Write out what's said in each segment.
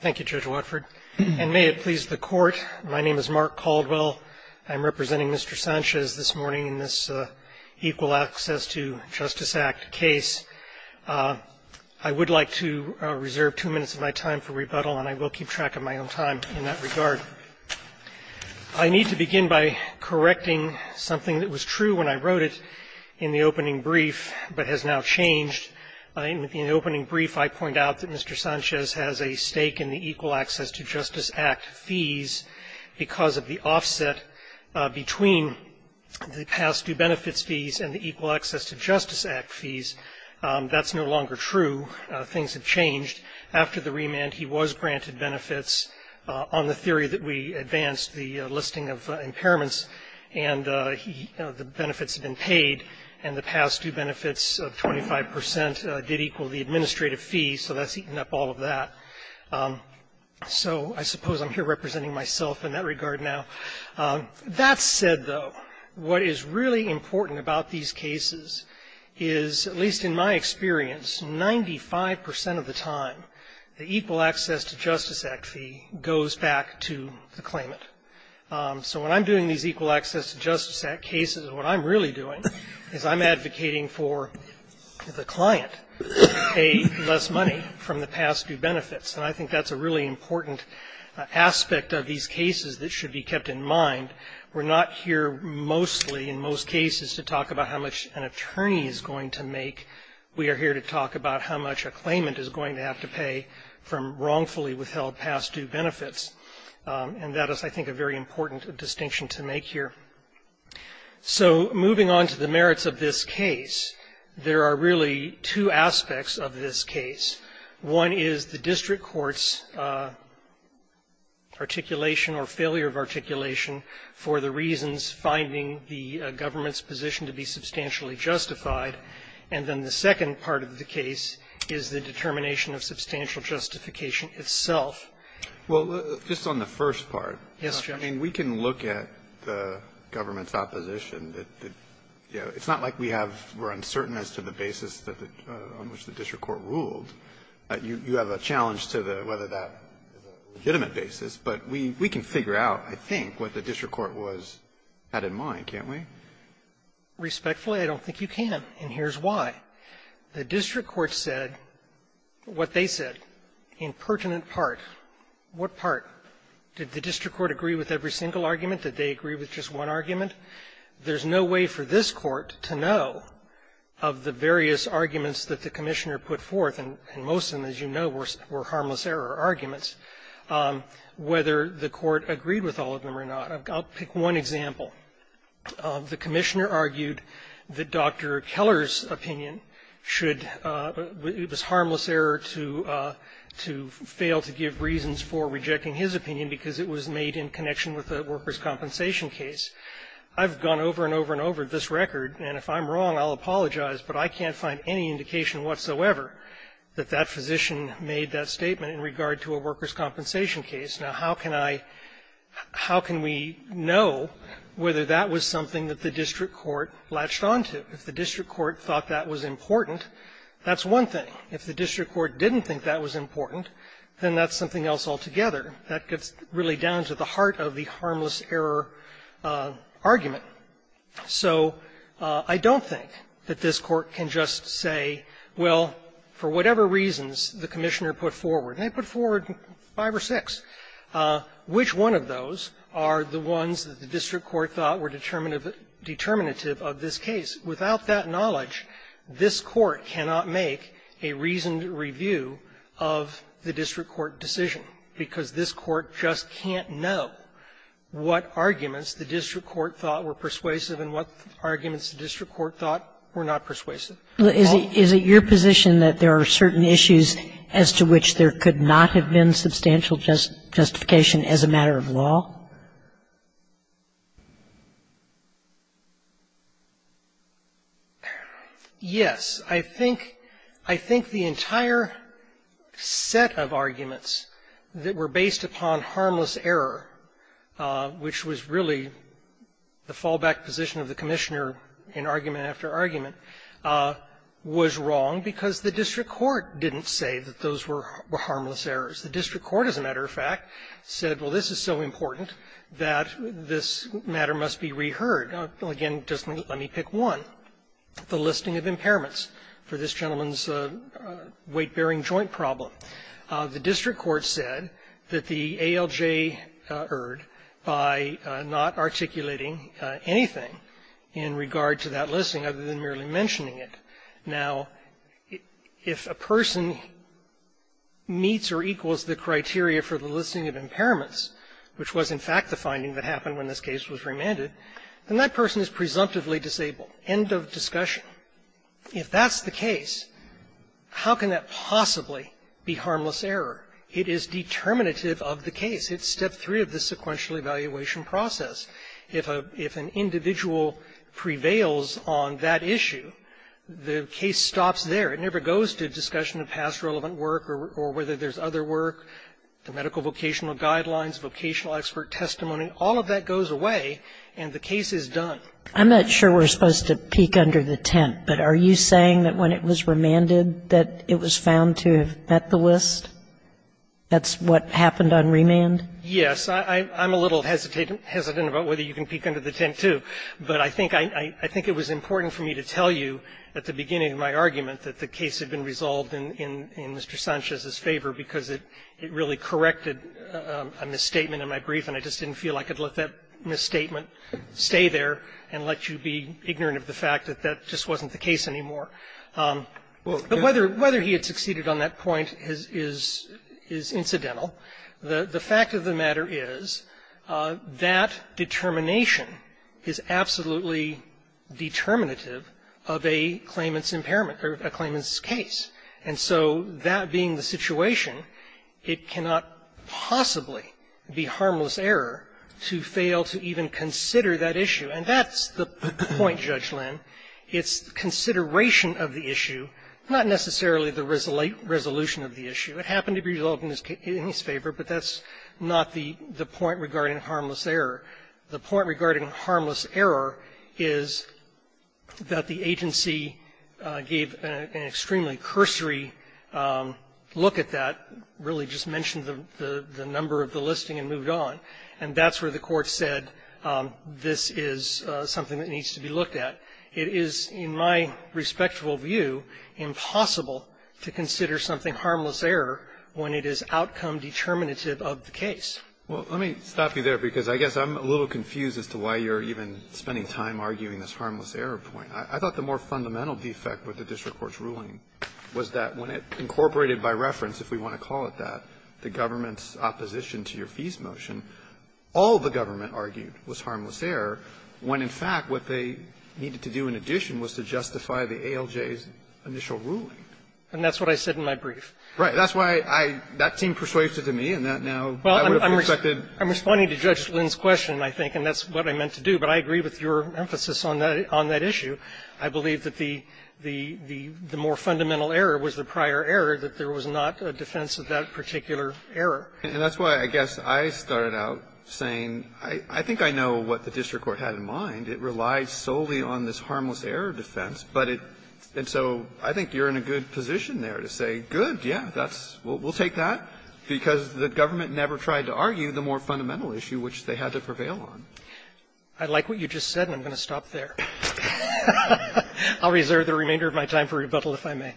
Thank you, Judge Watford. And may it please the Court, my name is Mark Caldwell. I'm representing Mr. Sanchez this morning in this Equal Access to Justice Act case. I would like to reserve two minutes of my time for rebuttal, and I will keep track of my own time in that regard. I need to begin by correcting something that was true when I wrote it in the opening brief, but has now changed. In the opening brief, I point out that Mr. Sanchez has a stake in the Equal Access to Justice Act fees because of the offset between the past due benefits fees and the Equal Access to Justice Act fees. That's no longer true. Things have changed. After the remand, he was granted benefits on the theory that we advanced the listing of impairments, and the benefits have been paid, and the past due benefits of 25 percent did equal the administrative fee, so that's eaten up all of that. So I suppose I'm here representing myself in that regard now. That said, though, what is really important about these cases is, at least in my experience, 95 percent of the time, the Equal Access to Justice Act fee goes back to the claimant. So when I'm doing these Equal Access to Justice Act cases, what I'm really doing is I'm advocating for the client to pay less money from the past due benefits, and I think that's a really important aspect of these cases that should be kept in mind. We're not here mostly, in most cases, to talk about how much an attorney is going to make. We are here to talk about how much a claimant is going to have to pay from wrongfully withheld past due benefits, and that is, I think, a very important distinction to make here. So moving on to the merits of this case, there are really two aspects of this case. One is the district court's articulation or failure of articulation for the reasons finding the government's position to be substantially justified, and then the second part of the case is the determination of substantial justification itself. Well, just on the first part, I mean, we can look at the government's opposition. It's not like we have uncertainty as to the basis on which the district court ruled. You have a challenge to whether that is a legitimate basis. But we can figure out, I think, what the district court had in mind, can't we? Respectfully, I don't think you can, and here's why. The district court said what they said in pertinent part. What part? Did the district court agree with every single argument? Did they agree with just one argument? There's no way for this Court to know of the various arguments that the Commissioner put forth, and most of them, as you know, were harmless error arguments, whether the Court agreed with all of them or not. I'll pick one example. The Commissioner argued that Dr. Keller's opinion should be this harmless error to fail to give reasons for rejecting his opinion because it was made in connection with a workers' compensation case. I've gone over and over and over this record, and if I'm wrong, I'll apologize, but I can't find any indication whatsoever that that physician made that statement in regard to a workers' compensation case. Now, how can I – how can we know whether that was something that the district court latched on to? If the district court thought that was important, that's one thing. If the district court didn't think that was important, then that's something else altogether. That gets really down to the heart of the harmless error argument. So I don't think that this Court can just say, well, for whatever reasons the Commissioner put forward, and they put forward five or six, which one of those are the ones that the district court thought were determinative of this case. Without that knowledge, this Court cannot make a reasoned review of the district court decision, because this Court just can't know what arguments the district court thought were persuasive and what arguments the district court thought were not persuasive. Is it your position that there are certain issues as to which there could not have been substantial justification as a matter of law? Yes. I think the entire set of arguments that were based upon harmless error, which was really the fallback position of the Commissioner in argument after argument, was wrong because the district court didn't say that those were harmless errors. The district court, as a matter of fact, said, well, this is so important that this matter must be reheard. Again, just let me pick one. The listing of impairments for this gentleman's weight-bearing joint problem. The district court said that the ALJ erred by not articulating anything in regard to that listing other than merely mentioning it. Now, if a person meets or equals the criteria for the listing of impairments, which was, in fact, the finding that happened when this case was remanded, then that person is presumptively disabled, end of discussion. If that's the case, how can that possibly be harmless error? It is determinative of the case. It's step three of the sequential evaluation process. If an individual prevails on that issue, the case stops there. It never goes to discussion of past relevant work or whether there's other work, the medical vocational guidelines, vocational expert testimony. All of that goes away, and the case is done. I'm not sure we're supposed to peek under the tent, but are you saying that when it was remanded that it was found to have met the list? That's what happened on remand? Yes. I'm a little hesitant about whether you can peek under the tent, too. But I think it was important for me to tell you at the beginning of my argument that the case had been resolved in Mr. Sanchez's favor because it really corrected a misstatement in my brief, and I just didn't feel I could let that misstatement stay there and let you be ignorant of the fact that that just wasn't the case anymore. But whether he had succeeded on that point is incidental. The fact of the matter is that determination is absolutely determinative of a claimant's impairment or a claimant's case. And so that being the situation, it cannot possibly be harmless error to fail to even consider that issue, and that's the point, Judge Lynn. It's consideration of the issue, not necessarily the resolution of the issue. It happened to be resolved in his favor, but that's not the point regarding harmless error. The point regarding harmless error is that the agency gave an extremely cursory look at that, really just mentioned the number of the listing and moved on. And that's where the Court said this is something that needs to be looked at. It is, in my respectful view, impossible to consider something harmless error when it is outcome determinative of the case. Well, let me stop you there, because I guess I'm a little confused as to why you're even spending time arguing this harmless error point. I thought the more fundamental defect with the district court's ruling was that when it incorporated by reference, if we want to call it that, the government's opposition to your fees motion, all the government argued was harmless error, when, in fact, what they needed to do in addition was to justify the ALJ's initial ruling. And that's what I said in my brief. Right. That's why I – that seemed persuasive to me, and that now I would have expected I'm responding to Judge Lynn's question, I think, and that's what I meant to do. But I agree with your emphasis on that issue. I believe that the more fundamental error was the prior error, that there was not a defense of that particular error. And that's why, I guess, I started out saying, I think I know what the district court had in mind. It relied solely on this harmless error defense, but it – and so I think you're in a good position there to say, good, yeah, that's – we'll take that, because the government never tried to argue the more fundamental issue which they had to prevail on. I like what you just said, and I'm going to stop there. I'll reserve the remainder of my time for rebuttal, if I may.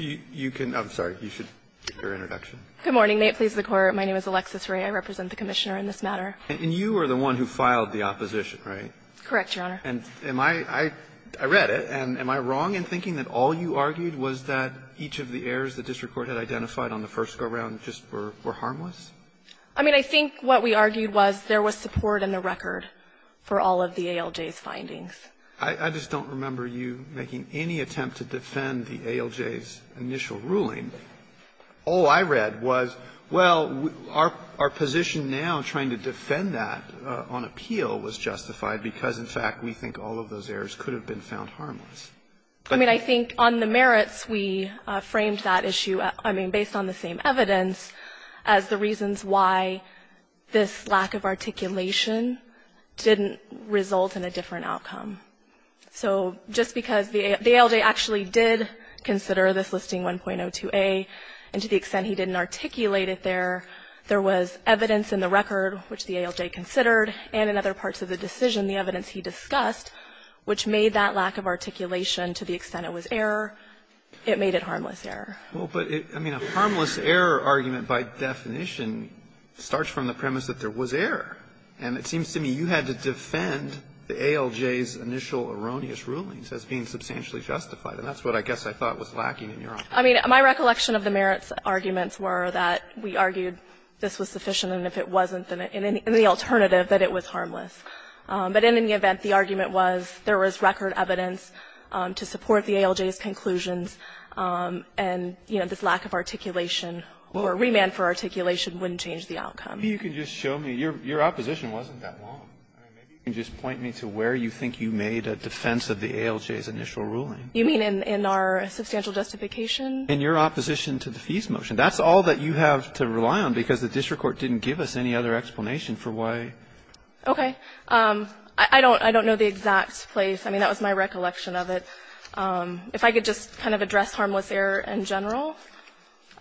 Okay. Maybe you can – I'm sorry. You should give your introduction. Good morning. May it please the Court. My name is Alexis Wray. I represent the Commissioner in this matter. And you were the one who filed the opposition, right? Correct, Your Honor. And am I – I read it. And am I wrong in thinking that all you argued was that each of the errors the district court had identified on the first go-round just were harmless? I mean, I think what we argued was there was support in the record for all of the ALJ's findings. I just don't remember you making any attempt to defend the ALJ's initial ruling. All I read was, well, our position now, trying to defend that on appeal, was justified, because, in fact, we think all of those errors could have been found harmless. I mean, I think on the merits, we framed that issue, I mean, based on the same evidence as the reasons why this lack of articulation didn't result in a different outcome. So just because the ALJ actually did consider this listing 1.02a, and to the extent he didn't articulate it there, there was evidence in the record, which the ALJ considered, and in other parts of the decision, the evidence he discussed, which made that lack of articulation to the extent it was error, it made it harmless error. Well, but, I mean, a harmless error argument, by definition, starts from the premise that there was error. And it seems to me you had to defend the ALJ's initial erroneous rulings as being substantially justified, and that's what I guess I thought was lacking in your opinion. I mean, my recollection of the merits arguments were that we argued this was sufficient, and if it wasn't, then in the alternative, that it was harmless. But in any event, the argument was there was record evidence to support the ALJ's conclusions, and, you know, this lack of articulation or remand for articulation wouldn't change the outcome. Maybe you can just show me. Your opposition wasn't that long. I mean, maybe you can just point me to where you think you made a defense of the ALJ's initial ruling. You mean in our substantial justification? In your opposition to the fees motion. That's all that you have to rely on, because the district court didn't give us any other explanation for why. Okay. I don't know the exact place. I mean, that was my recollection of it. If I could just kind of address harmless error in general,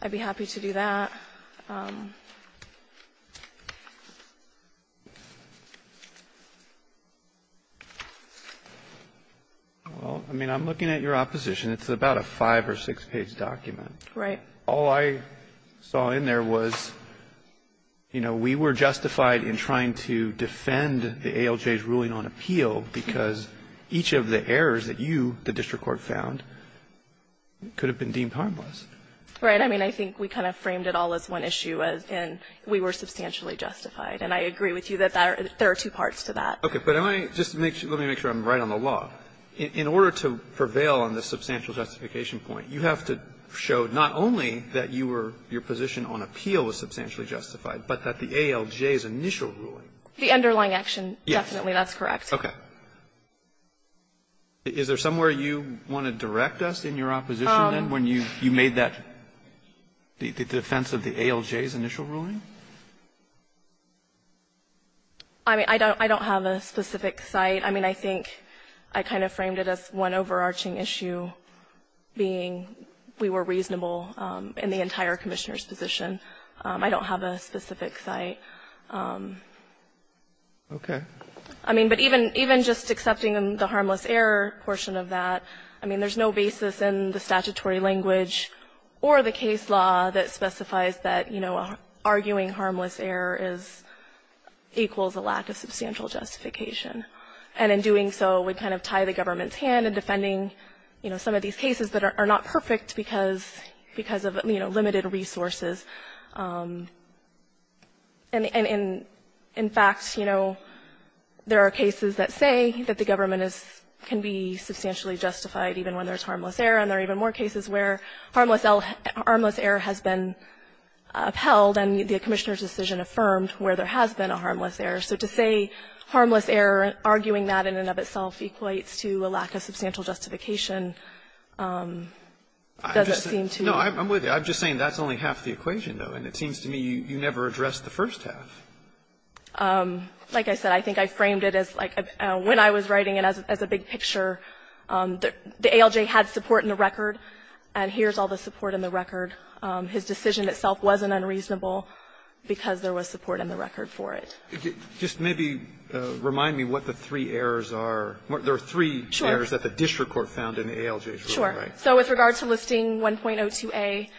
I'd be happy to do that. Well, I mean, I'm looking at your opposition. It's about a five or six-page document. Right. All I saw in there was, you know, we were justified in trying to defend the ALJ's on appeal, because each of the errors that you, the district court, found could have been deemed harmless. Right. I mean, I think we kind of framed it all as one issue, as in we were substantially justified. And I agree with you that there are two parts to that. Okay. But let me just make sure I'm right on the law. In order to prevail on the substantial justification point, you have to show not only that you were your position on appeal was substantially justified, but that the ALJ's initial ruling. The underlying action. Yes. Definitely, that's correct. Okay. Is there somewhere you want to direct us in your opposition, then, when you made that, the defense of the ALJ's initial ruling? I mean, I don't have a specific site. I mean, I think I kind of framed it as one overarching issue, being we were reasonable in the entire Commissioner's position. I don't have a specific site. Okay. I mean, but even just accepting the harmless error portion of that, I mean, there's no basis in the statutory language or the case law that specifies that, you know, arguing harmless error is equals a lack of substantial justification. And in doing so, we kind of tie the government's hand in defending, you know, some of these cases that are not perfect because of, you know, limited resources. And in fact, you know, there are cases that say that the government is can be substantially justified even when there's harmless error, and there are even more cases where harmless error has been upheld and the Commissioner's decision affirmed where there has been a harmless error. So to say harmless error, arguing that in and of itself equates to a lack of substantial justification doesn't seem to me. I'm just saying that's only half the equation, though, and it seems to me you never addressed the first half. Like I said, I think I framed it as, like, when I was writing it as a big picture, the ALJ had support in the record, and here's all the support in the record. His decision itself wasn't unreasonable because there was support in the record for it. Just maybe remind me what the three errors are. There are three errors that the district court found in the ALJ's ruling. Sure. So with regard to listing 1.02a,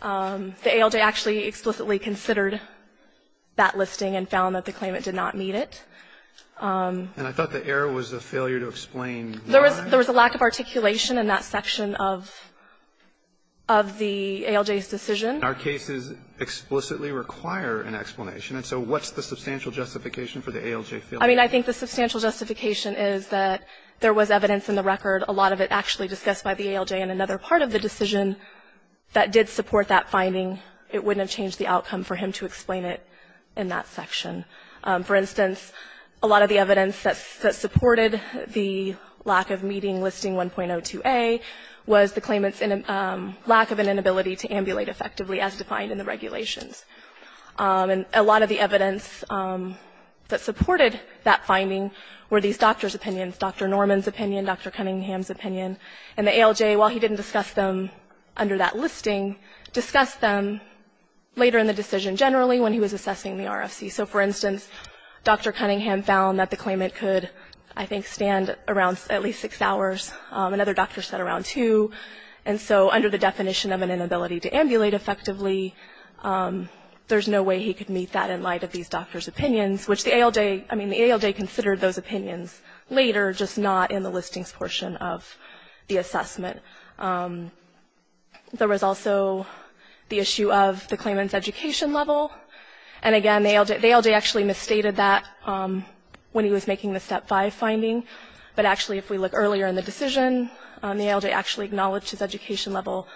the ALJ actually explicitly considered that listing and found that the claimant did not meet it. And I thought the error was a failure to explain why. There was a lack of articulation in that section of the ALJ's decision. Our cases explicitly require an explanation, and so what's the substantial justification for the ALJ failure? I mean, I think the substantial justification is that there was evidence in the record. A lot of it actually discussed by the ALJ in another part of the decision that did support that finding. It wouldn't have changed the outcome for him to explain it in that section. For instance, a lot of the evidence that supported the lack of meeting listing 1.02a was the claimant's lack of an inability to ambulate effectively as defined in the regulations. And a lot of the evidence that supported that finding were these doctors' opinions, Dr. Norman's opinion, Dr. Cunningham's opinion. And the ALJ, while he didn't discuss them under that listing, discussed them later in the decision generally when he was assessing the RFC. So for instance, Dr. Cunningham found that the claimant could, I think, stand around at least six hours, another doctor said around two. And so under the definition of an inability to ambulate effectively, there's no way he could meet that in light of these doctors' opinions, which the ALJ, I mean, the ALJ considered those opinions later, just not in the listings portion of the assessment. There was also the issue of the claimant's education level. And again, the ALJ actually misstated that when he was making the Step 5 finding. But actually, if we look earlier in the decision, the ALJ actually acknowledged his education level,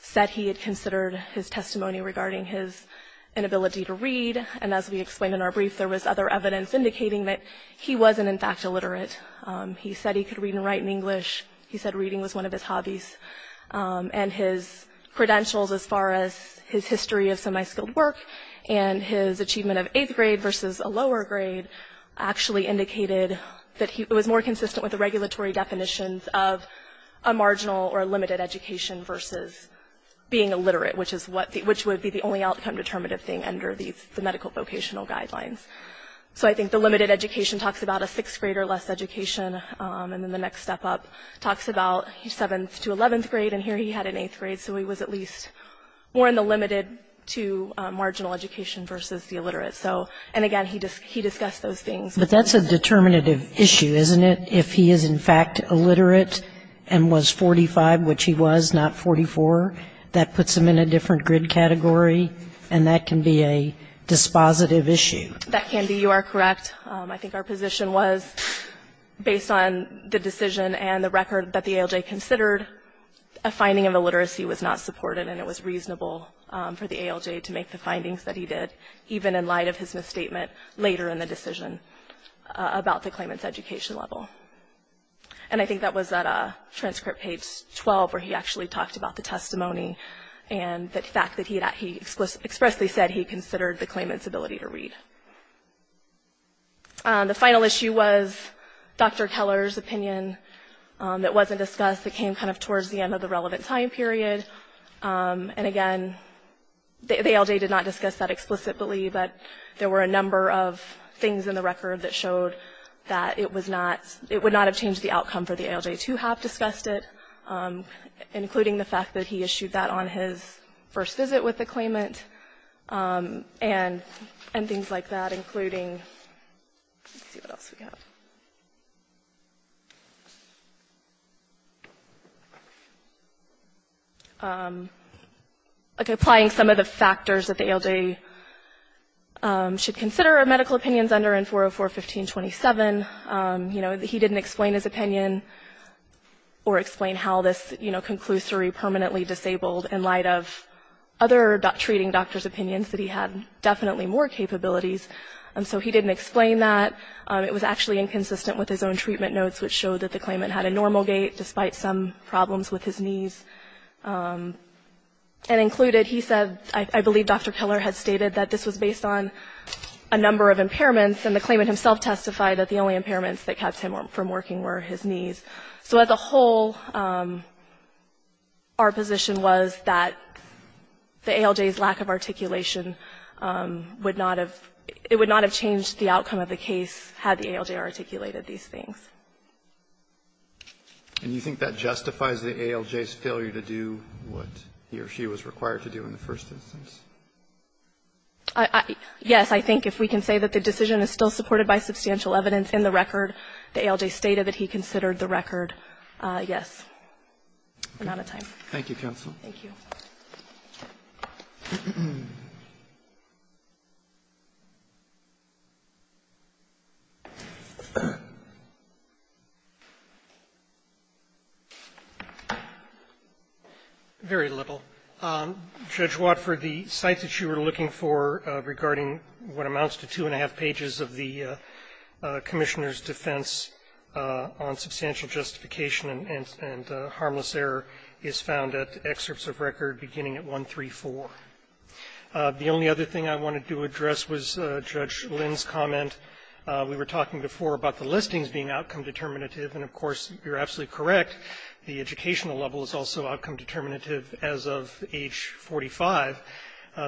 said he had considered his testimony regarding his inability to read, and as we explained in our brief, there was other evidence indicating that he wasn't, in fact, illiterate. He said he could read and write in English. He said reading was one of his hobbies. And his credentials as far as his history of semi-skilled work and his achievement of eighth grade versus a lower grade actually indicated that he was more consistent with the regulatory definitions of a marginal or a limited education versus being illiterate, which would be the only outcome that would be a determinative thing under the medical vocational guidelines. So I think the limited education talks about a sixth grade or less education, and then the next step up talks about seventh to eleventh grade, and here he had an eighth grade, so he was at least more in the limited to marginal education versus the illiterate. So, and again, he discussed those things. But that's a determinative issue, isn't it? If he is, in fact, illiterate and was 45, which he was, not 44, that puts him in a different grid category, and that can be a dispositive issue. That can be, you are correct. I think our position was, based on the decision and the record that the ALJ considered, a finding of illiteracy was not supported, and it was reasonable for the ALJ to make the findings that he did, even in light of his misstatement later in the decision about the claimant's education level. And I think that was at transcript page 12, where he actually talked about the testimony and the fact that he expressly said he considered the claimant's ability to read. The final issue was Dr. Keller's opinion that wasn't discussed. It came kind of towards the end of the relevant time period, and again, the ALJ did not discuss that explicitly, but there were a number of things in the record that showed that it was not, it would not have changed the outcome for the ALJ to have discussed it, including the fact that he issued that on his first visit with the claimant, and things like that, including, let's see what else we have. Applying some of the factors that the ALJ should consider are medical opinions under N-404-1527. You know, he didn't explain his opinion. Or explain how this, you know, conclusory permanently disabled in light of other treating doctors' opinions, that he had definitely more capabilities, and so he didn't explain that. It was actually inconsistent with his own treatment notes, which showed that the claimant had a normal gait, despite some problems with his knees. And included, he said, I believe Dr. Keller had stated that this was based on a number of impairments, and the claimant himself testified that the only impairment was his knees. So as a whole, our position was that the ALJ's lack of articulation would not have – it would not have changed the outcome of the case had the ALJ articulated these things. And you think that justifies the ALJ's failure to do what he or she was required to do in the first instance? Yes. I think if we can say that the decision is still supported by substantial evidence in the record, the ALJ stated that he considered the record, yes. I'm out of time. Thank you, counsel. Thank you. Very little. Judge Watford, the sites that you were looking for regarding what amounts to two and three of the Commissioner's defense on substantial justification and harmless error is found at excerpts of record beginning at 134. The only other thing I wanted to address was Judge Lynn's comment. We were talking before about the listings being outcome determinative. And, of course, you're absolutely correct. The educational level is also outcome determinative as of age 45.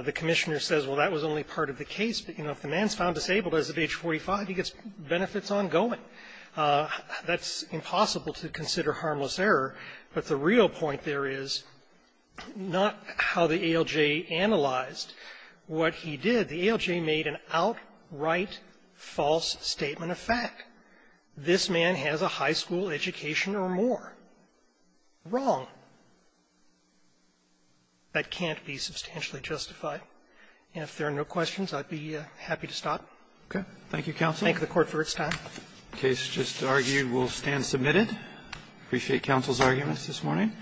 The Commissioner says, well, that was only part of the case. You know, if the man's found disabled as of age 45, he gets benefits ongoing. That's impossible to consider harmless error. But the real point there is not how the ALJ analyzed what he did. The ALJ made an outright false statement of fact. This man has a high school education or more. Wrong. That can't be substantially justified. And if there are no questions, I'd be happy to stop. Roberts. Thank you, counsel. Thank the Court for its time. The case just argued will stand submitted. I appreciate counsel's arguments this morning.